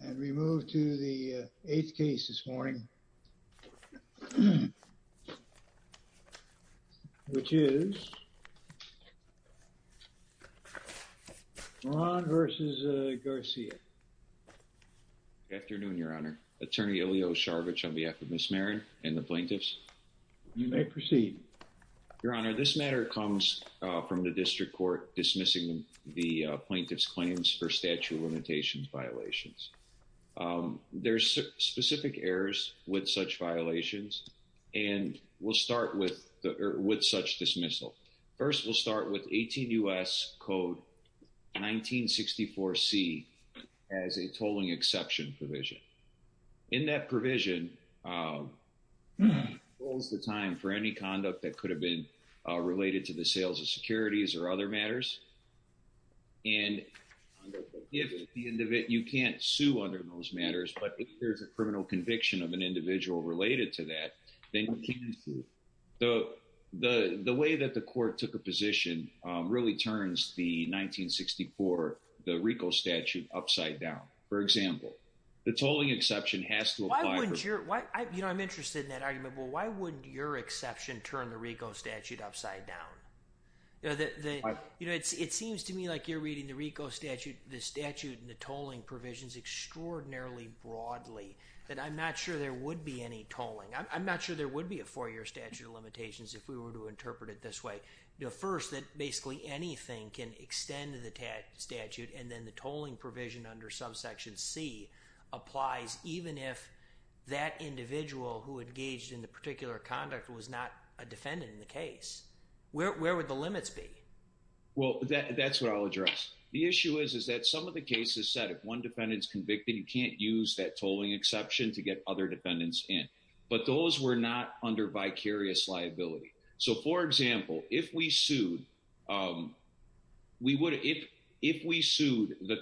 And we move to the eighth case this morning, which is Maron v. Garcia. Good afternoon, Your Honor. Attorney Elio Sharvich on behalf of Ms. Marin and the plaintiffs. You may proceed. Your Honor, this matter comes from the District Court dismissing the plaintiff's claims for statute of limitations violations. There's specific errors with such violations, and we'll start with such dismissal. First, we'll start with 18 U.S. Code 1964C as a tolling exception provision. In that provision, it holds the time for any conduct that could have been related to the sales of securities or other matters. You can't sue under those matters, but if there's a criminal conviction of an individual related to that, then you can sue. The way that the court took a position really turns the 1964, the RICO statute upside down. For example, the tolling exception has to apply. I'm interested in that argument. Well, why wouldn't your exception turn the RICO statute upside down? It seems to me like you're reading the RICO statute, the statute, and the tolling provisions extraordinarily broadly, that I'm not sure there would be any tolling. I'm not sure there would be a four-year statute of limitations if we were to interpret it this way. First, that basically anything can extend to the statute, and then the tolling provision under subsection C applies even if that individual who engaged in the particular conduct was not a defendant in the case. Where would the limits be? Well, that's what I'll address. The issue is that some of the cases said if one defendant's convicted, you can't use that tolling exception to get other defendants in, but those were not under vicarious liability. For example, if we sued the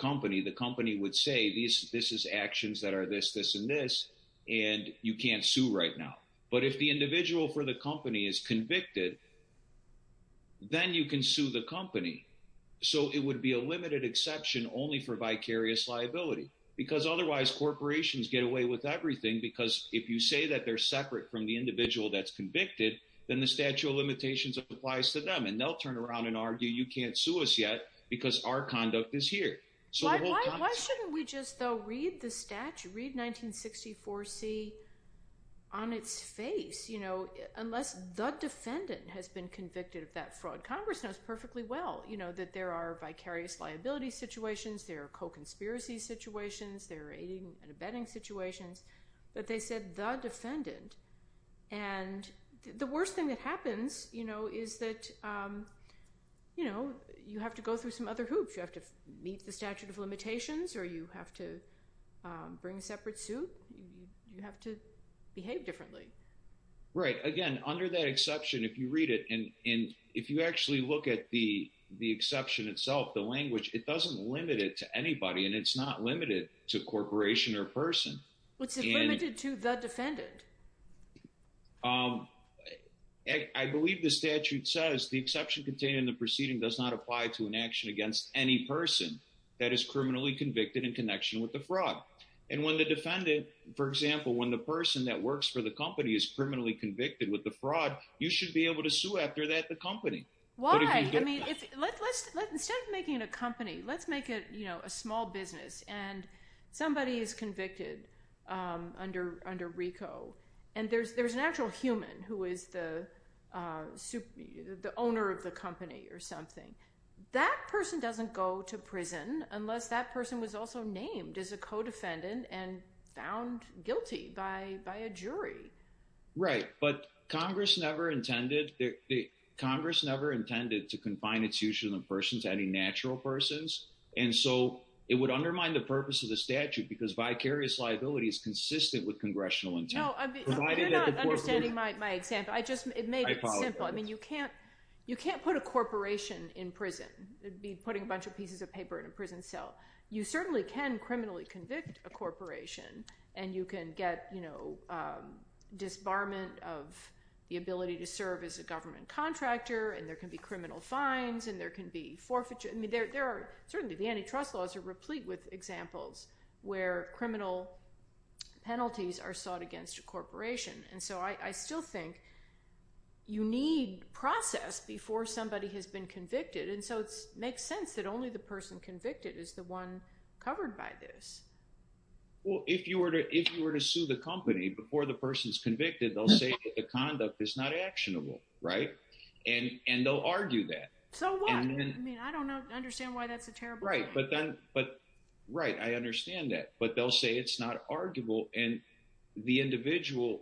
company, the company would say, this is actions that are this, this, and this, and you can't sue right now. But if the individual for the company is convicted, then you can sue the company. So it would be a limited exception only for vicarious liability, because otherwise corporations get away with everything, because if you say that they're separate from the individual that's convicted, then the statute of limitations applies to them, and they'll turn around and argue, you can't sue us yet because our conduct is here. Why shouldn't we just, though, read the statute, read 1964C on its face? Unless the defendant has been convicted of that fraud. Congress knows perfectly well that there are vicarious liability situations, there are co-conspiracy situations, there are aiding and abetting situations, but they said the defendant. And the worst thing that happens is that you have to go through some other hoops. You have to meet the statute of limitations, or you have to bring a separate suit. You have to behave differently. Right. Again, under that exception, if you read it, and if you actually look at the exception itself, the language, it doesn't limit it to anybody, and it's not limited to corporation or person. What's it limited to the defendant? I believe the statute says the exception contained in the proceeding does not apply to an action against any person that is criminally convicted in connection with the fraud. And when the defendant, for example, when the person that works for the company is criminally convicted with the fraud, you should be able to sue after that the company. Why? I mean, instead of making it a company, let's make it a small business, and somebody is convicted under RICO. And there's an actual human who is the owner of the company or something. That person doesn't go to prison unless that person was also named as a co-defendant and found guilty by a jury. Right. But Congress never intended to confine its use of the person to any natural persons. And so it would undermine the purpose of the statute because vicarious liability is consistent with congressional intent. No, I mean, you're not understanding my example. I just, it made it simple. I mean, you can't put a corporation in prison. It'd be putting a bunch of pieces of paper in a prison cell. You certainly can criminally convict a corporation, and you can get disbarment of the ability to serve as a government contractor, and there can be criminal fines, and there can be forfeiture. I mean, there are certainly, the antitrust laws are replete with examples where criminal penalties are sought against a corporation. And so I still think you need process before somebody has been convicted. And so it makes sense that only the person convicted is the one covered by this. Well, if you were to sue the company before the person's convicted, they'll say that the conduct is not actionable, right? And they'll argue that. So what? I mean, I don't understand why that's a terrible thing. Right. But then, but right. I understand that. But they'll say it's not arguable. And the individual,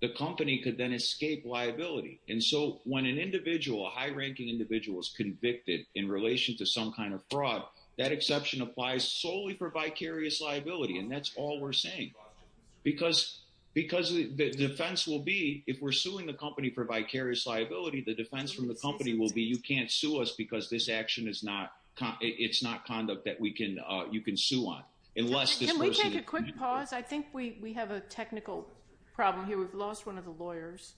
the company could then escape liability. And so when an individual, a high ranking individual is convicted in relation to some kind of fraud, that exception applies solely for vicarious liability. And that's all we're saying. Because the defense will be, if we're suing the company for vicarious liability, the defense from the company will be, you can't sue us because this action is not, it's not conduct that you can sue on. Can we take a quick pause? I think we have a technical problem here. We've lost one of the lawyers.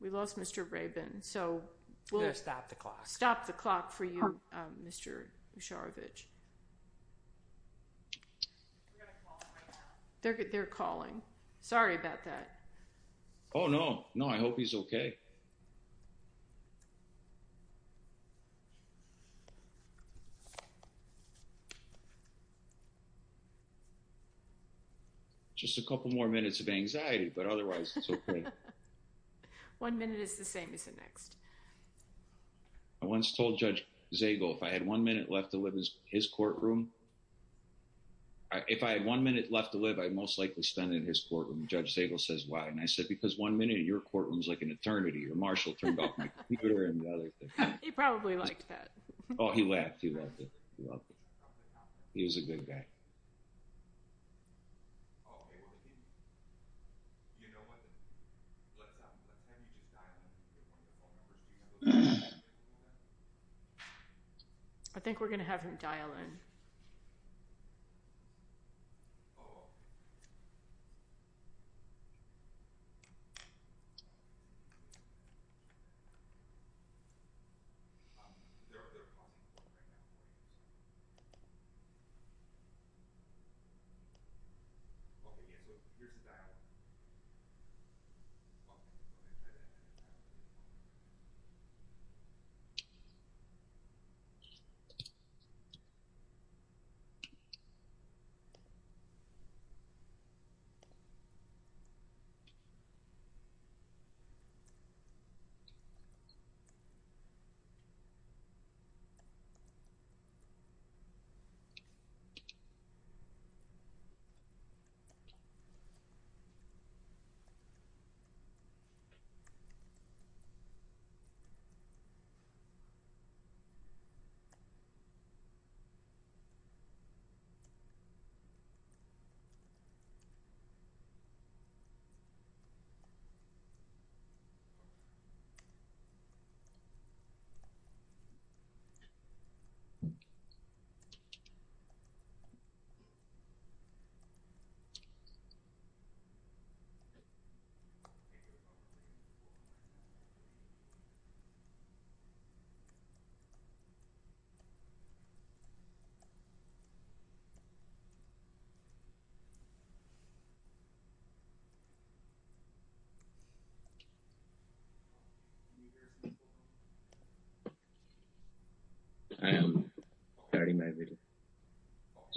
We lost Mr. Rabin. So we'll stop the clock for you, Mr. Usharovich. They're calling. Sorry about that. Oh no. No, I hope he's okay. Just a couple more minutes of anxiety, but otherwise it's okay. One minute is the same as the next. I once told Judge Zagel, if I had one minute left to live in his courtroom, if I had one minute left to live, I'd most likely stand in his courtroom. Judge Zagel says, why? And I said, because one minute in your courtroom is like an eternity. Marshall turned off my computer and the other thing. He probably liked that. Oh, he laughed. He loved it. He was a good guy. I think we're going to have him dial in.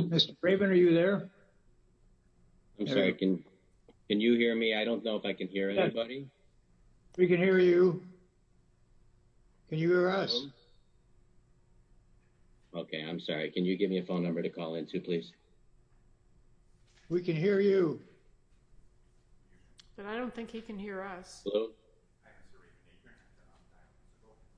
Mr. Rabin, are you there? I'm sorry. Can you hear me? I don't know if I can hear anybody. We can hear you. Can you hear us? Okay. I'm sorry. Can you give me a phone number to call into, please? We can hear you. But I don't think he can hear us. You're going to have to turn off dialing, so we can hear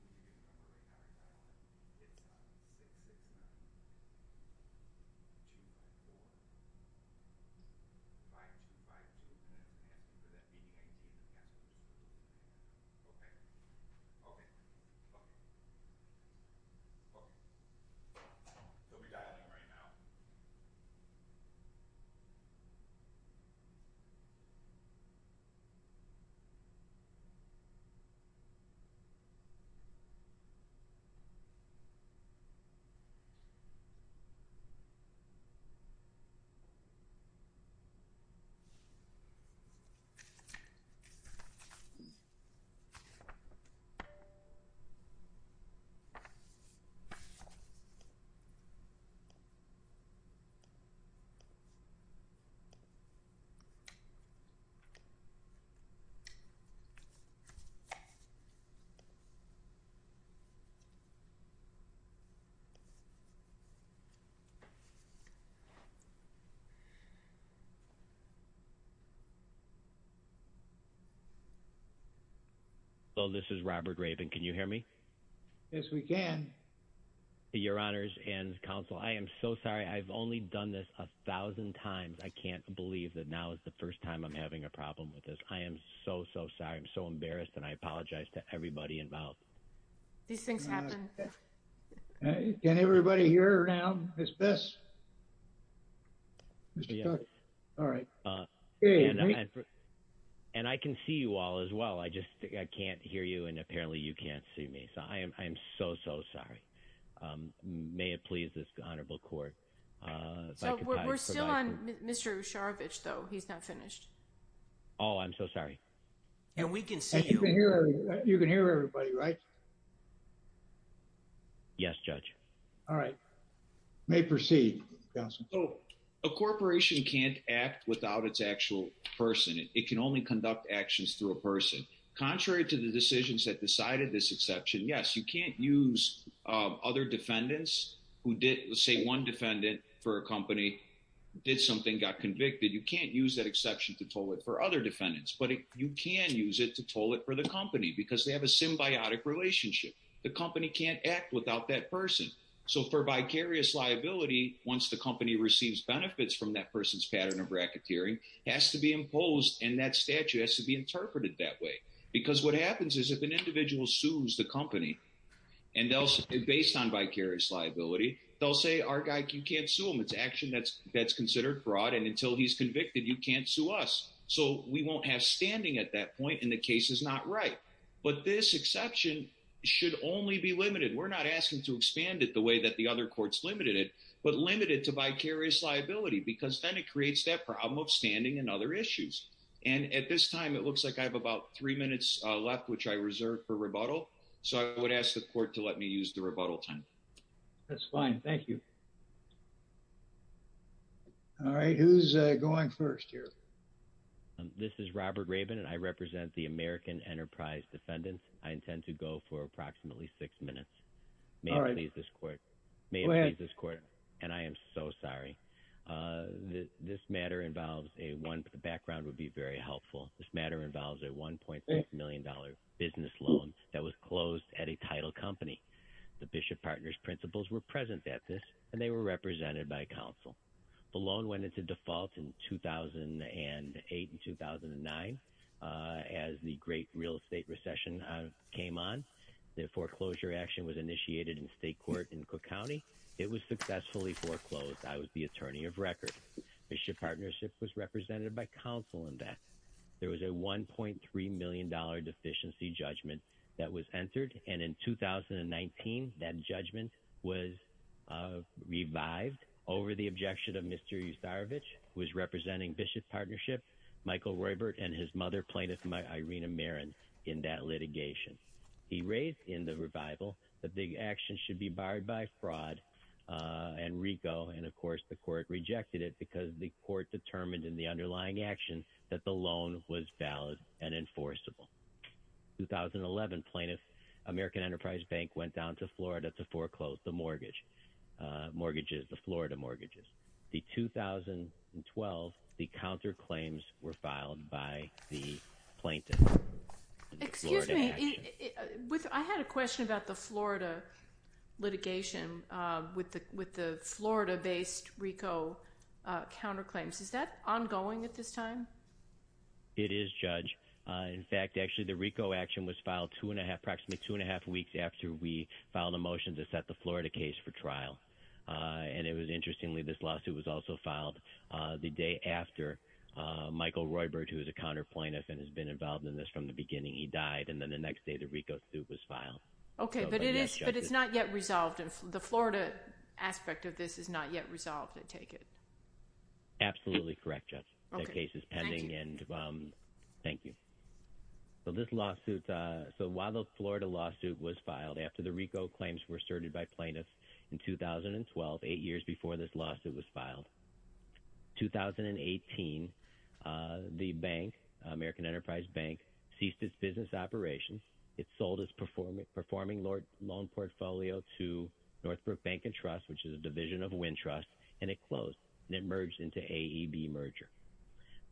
you. But right now, he's dialing. It's 669-254-5252, and that means he can't hear you. Okay. Okay. Okay. Okay. He'll be dialing right now. So, this is Robert Rabin. Can you hear me? Yes, we can. Your Honors and Counsel, I am so sorry. I've only done this a thousand times. I can't believe that now is the first time I'm having a problem with this. I am so, so sorry. I'm so embarrassed, and I apologize to everybody involved. These things happen. Can everybody hear her now, Ms. Biss? Mr. Cook? All right. And I can see you all as well. I just can't hear you, and apparently you can't see me. So, I am so, so sorry. May it please this honorable court. So, we're still on Mr. Usharovich, though. He's not finished. Oh, I'm so sorry. And we can see you. You can hear everybody, right? Yes, Judge. All right. May proceed, Counsel. So, a corporation can't act without its actual person. It can only conduct actions through a person. Contrary to the decisions that decided this exception, yes, you can't use other defendants who did, say, one defendant for a company did something, got convicted. You can't use that but you can use it to toll it for the company because they have a symbiotic relationship. The company can't act without that person. So, for vicarious liability, once the company receives benefits from that person's pattern of racketeering, has to be imposed, and that statute has to be interpreted that way. Because what happens is if an individual sues the company, and based on vicarious liability, they'll say, our guy, you can't sue him. It's action that's considered fraud, and until he's convicted, you can't sue us. So, we won't have standing at that point, and the case is not right. But this exception should only be limited. We're not asking to expand it the way that the other courts limited it, but limited to vicarious liability, because then it creates that problem of standing and other issues. And at this time, it looks like I have about three minutes left, which I reserve for rebuttal. So, I would ask the court to let me use the rebuttal time. That's fine. Thank you. All right. Who's going first here? This is Robert Rabin, and I represent the American Enterprise Defendants. I intend to go for approximately six minutes. May I please this court? Go ahead. And I am so sorry. This matter involves a one, but the background would be very helpful. This matter involves a $1.6 million business loan that was closed at a title company. The Bishop Partners principles were present at this, and they were represented by counsel. The loan went into default in 2008 and 2009, as the great real estate recession came on. The foreclosure action was initiated in state court in Cook County. It was successfully foreclosed. I was the attorney of record. Bishop Partnership was represented by counsel in that. There was a $1.3 million deficiency judgment that was entered. And in 2019, that judgment was revived over the objection of Mr. Yustarevich, who was representing Bishop Partnership, Michael Roybert, and his mother, plaintiff Irina Marin, in that litigation. He raised in the revival that the action should be barred by fraud and RICO. And, of course, the court rejected it because the court determined in the underlying action that the loan was valid and enforceable. In 2011, plaintiff American Enterprise Bank went down to Florida to foreclose the mortgage, mortgages, the Florida mortgages. In 2012, the counterclaims were filed by the plaintiff. Excuse me. I had a question about the Florida litigation with the Florida-based RICO counterclaims. Is that ongoing at this time? It is, Judge. In fact, actually, the RICO action was filed two and a half, approximately two and a half weeks after we filed a motion to set the Florida case for trial. And it was interestingly, this lawsuit was also filed the day after Michael Roybert, who is a counterplaintiff and has been involved in this from the beginning, he died. And then the next day, the RICO suit was filed. Okay. But it's not yet resolved. The Florida aspect of this is not yet resolved, I take it? Absolutely correct, Judge. Okay. Thank you. Thank you. So this lawsuit, so while the Florida lawsuit was filed after the RICO claims were asserted by plaintiffs in 2012, eight years before this lawsuit was filed, 2018, the bank, American Enterprise Bank, ceased its business operations. It sold its performing loan portfolio to Northbrook Bank and Trust, which is a division of Wintrust, and it closed, and it merged into AEB merger.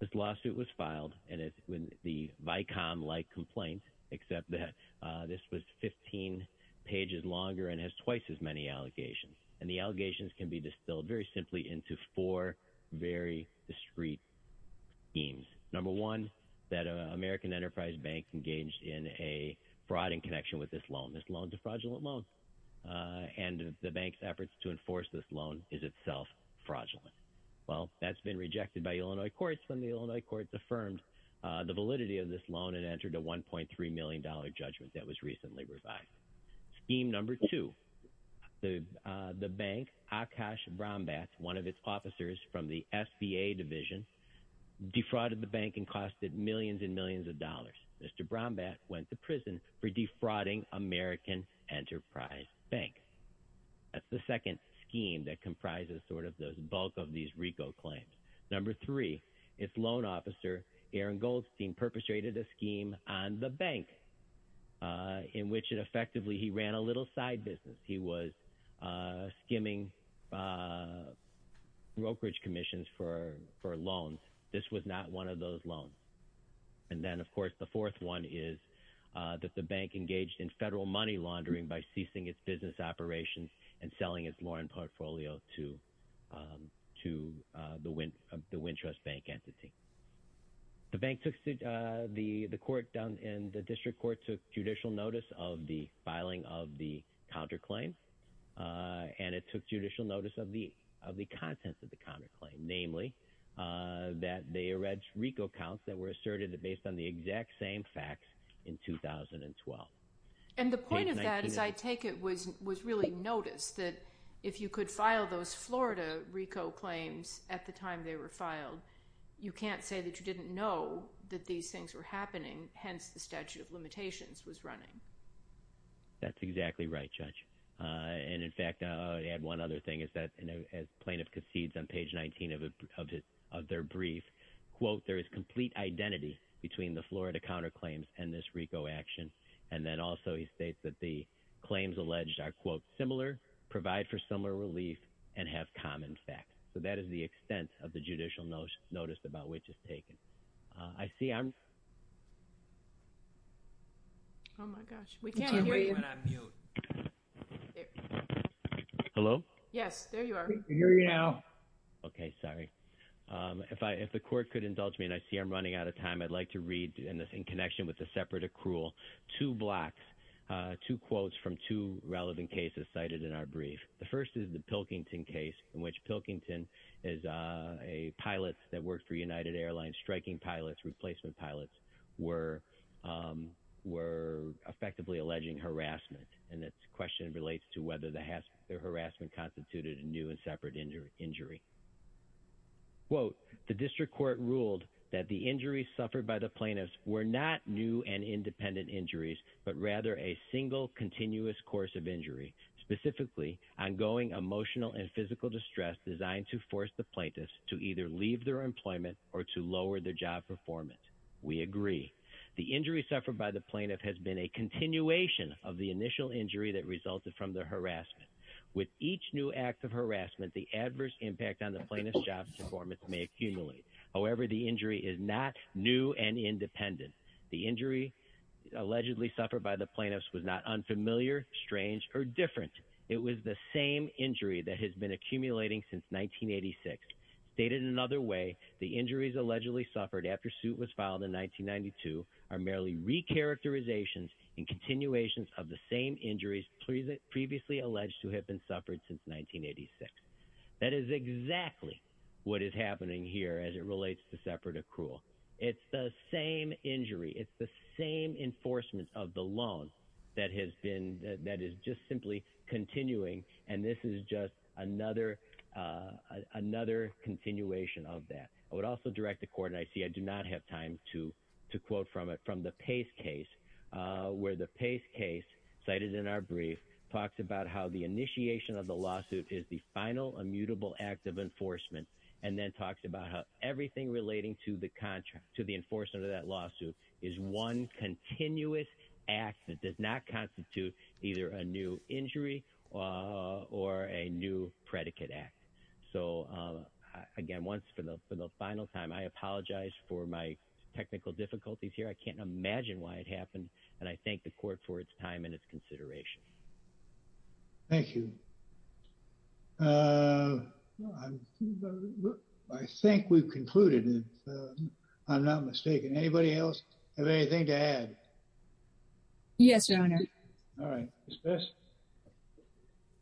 This lawsuit was filed, and it's the VICOM-like complaint, except that this was 15 pages longer and has twice as many allegations. And the allegations can be distilled very simply into four very discreet themes. Number one, that American Enterprise Bank engaged in a fraud in connection with this loan, a fraudulent loan, and the bank's efforts to enforce this loan is itself fraudulent. Well, that's been rejected by Illinois courts when the Illinois courts affirmed the validity of this loan and entered a $1.3 million judgment that was recently revised. Theme number two, the bank, Akash Brombat, one of its officers from the SBA division, defrauded the bank and costed millions and millions of dollars. Mr. Brombat went to prison for defrauding American Enterprise Bank. That's the second scheme that comprises sort of the bulk of these RICO claims. Number three, its loan officer, Aaron Goldstein, perpetrated a scheme on the bank in which effectively he ran a little side business. He was skimming brokerage commissions for loans. This was not one of those loans. And then, of course, the fourth one is that the bank engaged in federal money laundering by ceasing its business operations and selling its loan portfolio to the Wintrust Bank entity. The bank took, the court and the district court took judicial notice of the filing of the counterclaim, and it took judicial notice of the contents of the counterclaim, namely, that they erected RICO accounts that were asserted based on the exact same facts in 2012. And the point of that, as I take it, was really notice that if you could file those Florida RICO claims at the time they were filed, you can't say that you didn't know that these things were happening, hence the statute of limitations was running. That's exactly right, Judge. And, in fact, I'll add one other thing is that as plaintiff concedes on page 19 of their brief, quote, there is complete identity between the Florida counterclaims and this RICO action. And then also he states that the claims alleged are, quote, similar, provide for similar relief, and have common facts. So that is the extent of the judicial notice about which is taken. I see I'm. Oh, my gosh. We can't hear you. Hello? Yes, there you are. We can't hear you now. Okay, sorry. If the court could indulge me, and I see I'm running out of time, I'd like to read in connection with the separate accrual two blocks, two quotes from two relevant cases cited in our brief. The first is the Pilkington case in which Pilkington is a pilot that works for United Airlines, striking pilots, replacement pilots were effectively alleging harassment. And the question relates to whether the harassment constituted a new and separate injury. Quote, the district court ruled that the injuries suffered by the plaintiffs were not new and independent injuries, but rather a single continuous course of injury, specifically ongoing emotional and physical distress designed to force the plaintiffs to either leave their employment or to lower their job performance. We agree. The injury suffered by the plaintiff has been a continuation of the initial injury that resulted from the harassment. With each new act of harassment, the adverse impact on the plaintiff's job performance may accumulate. However, the injury is not new and independent. The injury allegedly suffered by the plaintiffs was not unfamiliar, strange or different. It was the same injury that has been accumulating since 1986. Stated in another way, the injuries allegedly suffered after suit was in continuations of the same injuries previously alleged to have been suffered since 1986. That is exactly what is happening here as it relates to separate accrual. It's the same injury. It's the same enforcement of the loan that has been, that is just simply continuing. And this is just another continuation of that. I would also direct the court, and I see I do not have time to quote from it, from the Pace case, where the Pace case, cited in our brief, talks about how the initiation of the lawsuit is the final immutable act of enforcement, and then talks about how everything relating to the enforcement of that lawsuit is one continuous act that does not constitute either a new injury or a new predicate act. So, again, once for the final time, I apologize for my technical difficulties here. I can't imagine why it happened, and I thank the court for its time and its consideration. Thank you. I think we've concluded, if I'm not mistaken. Anybody else have anything to add? Yes, Your Honor. All right. Ms. Best.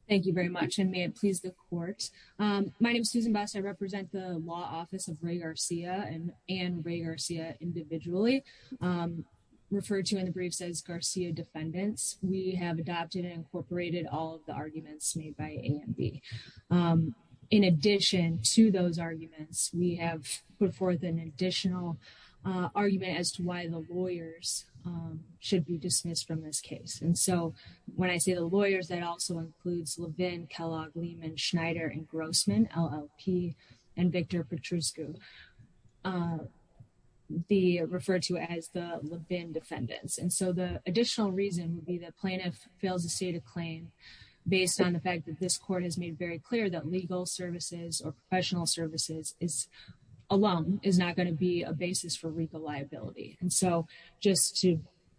Thank you very much, and may it please the court. My name is Susan Best. I represent the law office of Ray Garcia and Anne Ray Garcia individually, referred to in the brief as Garcia defendants. We have adopted and incorporated all of the arguments made by A and B. In addition to those arguments, we have put forth an additional argument as to why the lawyers should be dismissed from this case. And so, when I say the lawyers, that also includes Levin, Kellogg, Lehman, Schneider, and Grossman, LLP, and Victor Petruscu, referred to as the Levin defendants. And so, the additional reason would be that plaintiff fails to state a claim based on the fact that this court has made very clear that legal services or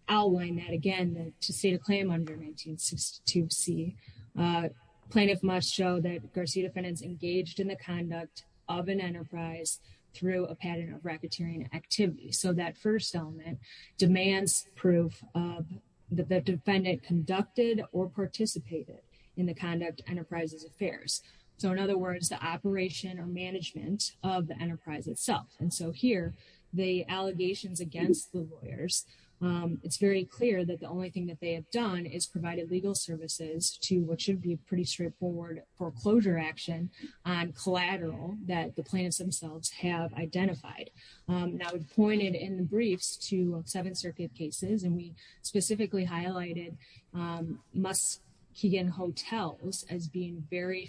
outline that again to state a claim under 1962C. Plaintiff must show that Garcia defendants engaged in the conduct of an enterprise through a pattern of racketeering activity. So, that first element demands proof of the defendant conducted or participated in the conduct enterprise's affairs. So, in other words, the operation or management of the enterprise itself. And so, here, the allegations against the lawyers, it's very clear that the only thing that they have done is provided legal services to what should be a pretty straightforward foreclosure action on collateral that the plaintiffs themselves have identified. Now, we've pointed in the briefs to seven circuit cases, and we specifically highlighted Muskegon Hotels as being very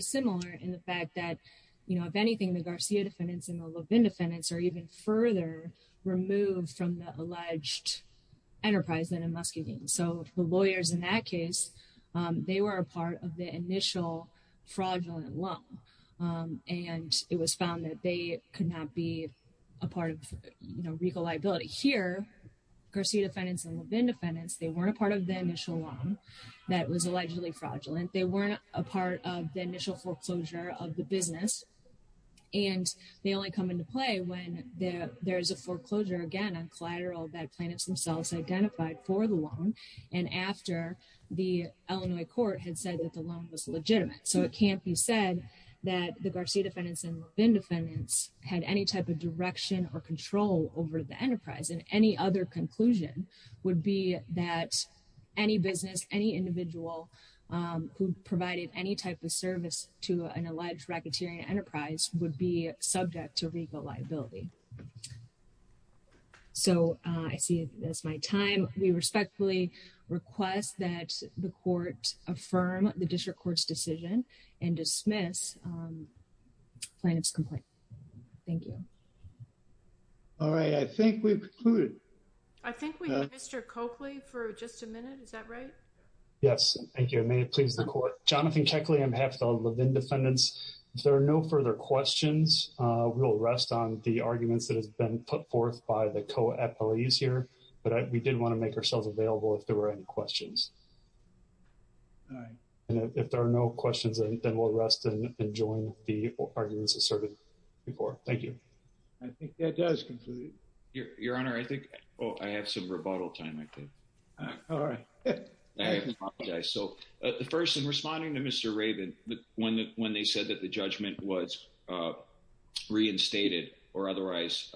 similar in the fact that, you know, if anything, the Garcia defendants and the Levin defendants are even further removed from the alleged enterprise than in Muskegon. So, the lawyers in that case, they were a part of the initial fraudulent loan, and it was found that they here, Garcia defendants and Levin defendants, they weren't a part of the initial loan that was allegedly fraudulent. They weren't a part of the initial foreclosure of the business, and they only come into play when there's a foreclosure, again, on collateral that plaintiffs themselves identified for the loan and after the Illinois court had said that the loan was legitimate. So, it can't be said that the Garcia defendants and Levin defendants had any type of and any other conclusion would be that any business, any individual who provided any type of service to an alleged racketeering enterprise would be subject to legal liability. So, I see that's my time. We respectfully request that the court affirm the district court's decision and dismiss plaintiff's complaint. Thank you. All right. I think we've concluded. I think we have Mr. Coakley for just a minute. Is that right? Yes. Thank you. May it please the court. Jonathan Keckley on behalf of the Levin defendants. If there are no further questions, we'll rest on the arguments that have been put forth by the co-appellees here, but we did want to make ourselves available if there were any questions. All right. And if there are no questions, then we'll rest and join the arguments asserted before. Thank you. I think that does conclude. Your Honor, I think, oh, I have some rebuttal time, I think. All right. I apologize. So, the first, in responding to Mr. Raven, when they said that the judgment was reinstated or otherwise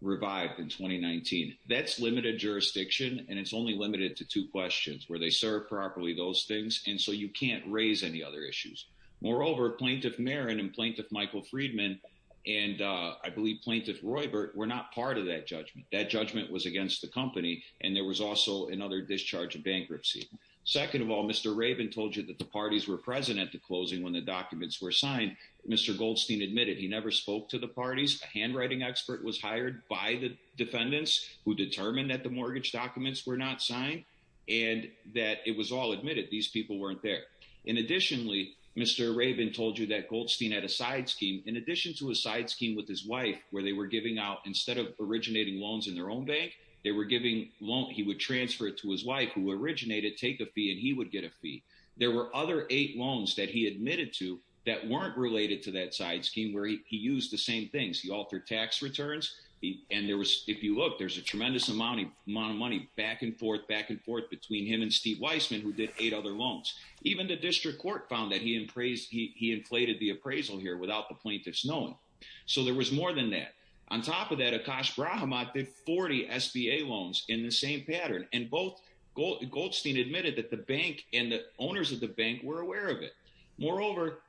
revived in 2019, that's limited jurisdiction and it's limited to two questions where they serve properly those things and so you can't raise any other issues. Moreover, Plaintiff Marin and Plaintiff Michael Friedman and I believe Plaintiff Roybert were not part of that judgment. That judgment was against the company and there was also another discharge of bankruptcy. Second of all, Mr. Raven told you that the parties were present at the closing when the documents were signed. Mr. Goldstein admitted he never spoke to the parties. A handwriting expert was hired by the defendants who determined that the mortgage documents were not signed and that it was all admitted. These people weren't there. And additionally, Mr. Raven told you that Goldstein had a side scheme in addition to a side scheme with his wife where they were giving out instead of originating loans in their own bank, they were giving loans. He would transfer it to his wife who originated, take a fee and he would get a fee. There were other eight loans that he admitted to that weren't related to that side scheme where he used the same things. He altered tax returns and there was, if you look, there's tremendous amount of money back and forth, back and forth between him and Steve Weissman who did eight other loans. Even the district court found that he inflated the appraisal here without the plaintiff's knowing. So there was more than that. On top of that, Akash Brahamat did 40 SBA loans in the same pattern and both Goldstein admitted that the bank and the owners of the bank were aware of it. Moreover,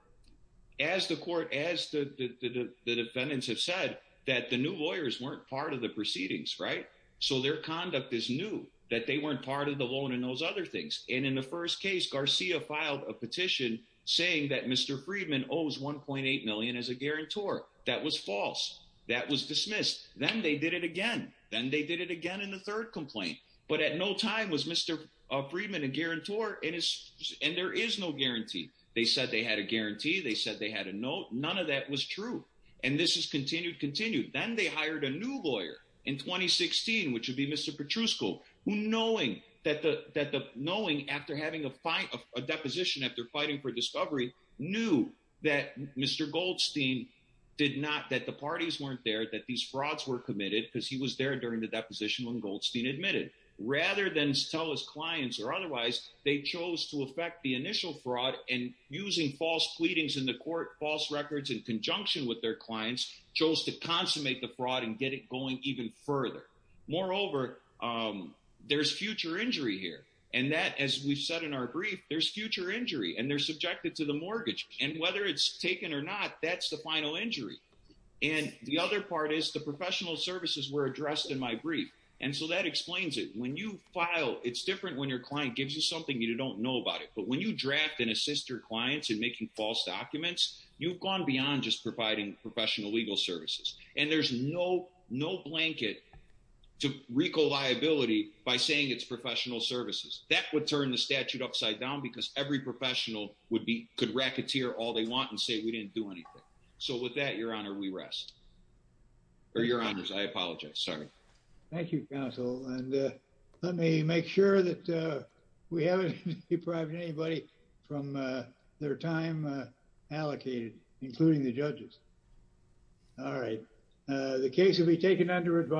as the court, as the defendants have said that the new lawyers weren't part of the proceedings, right? So their conduct is new that they weren't part of the loan and those other things. And in the first case, Garcia filed a petition saying that Mr. Friedman owes $1.8 million as a guarantor. That was false. That was dismissed. Then they did it again. Then they did it again in the third complaint, but at no time was Mr. Friedman a guarantor and there is no guarantee. They said they had a guarantee. They said they had a note. None of that was true. And this has continued, continued. Then they hired a new lawyer in 2016, which would be Mr. Petrusco, who knowing that the, that the knowing after having a fight, a deposition, after fighting for discovery, knew that Mr. Goldstein did not, that the parties weren't there, that these frauds were committed because he was there during the deposition when Goldstein admitted. Rather than tell his clients or otherwise, they chose to affect the initial fraud and using false pleadings in the court, false records in conjunction with their clients, chose to consummate the fraud and get it going even further. Moreover, there's future injury here. And that, as we've said in our brief, there's future injury and they're subjected to the mortgage and whether it's taken or not, that's the final injury. And the other part is the professional services were addressed in my brief. And so that explains it. When you file, it's different when your client gives you something you don't know about it. But when you draft and assist your clients in making false documents, you've gone beyond just providing professional legal services. And there's no, no blanket to RICO liability by saying it's professional services. That would turn the statute upside down because every professional would be, could racketeer all they want and say, we didn't do anything. So with that, your honor, we rest. Or your honors, I apologize. Sorry. Thank you counsel. And let me make sure that we haven't deprived anybody from their time allocated, including the judges. All right. The case will be taken under advice.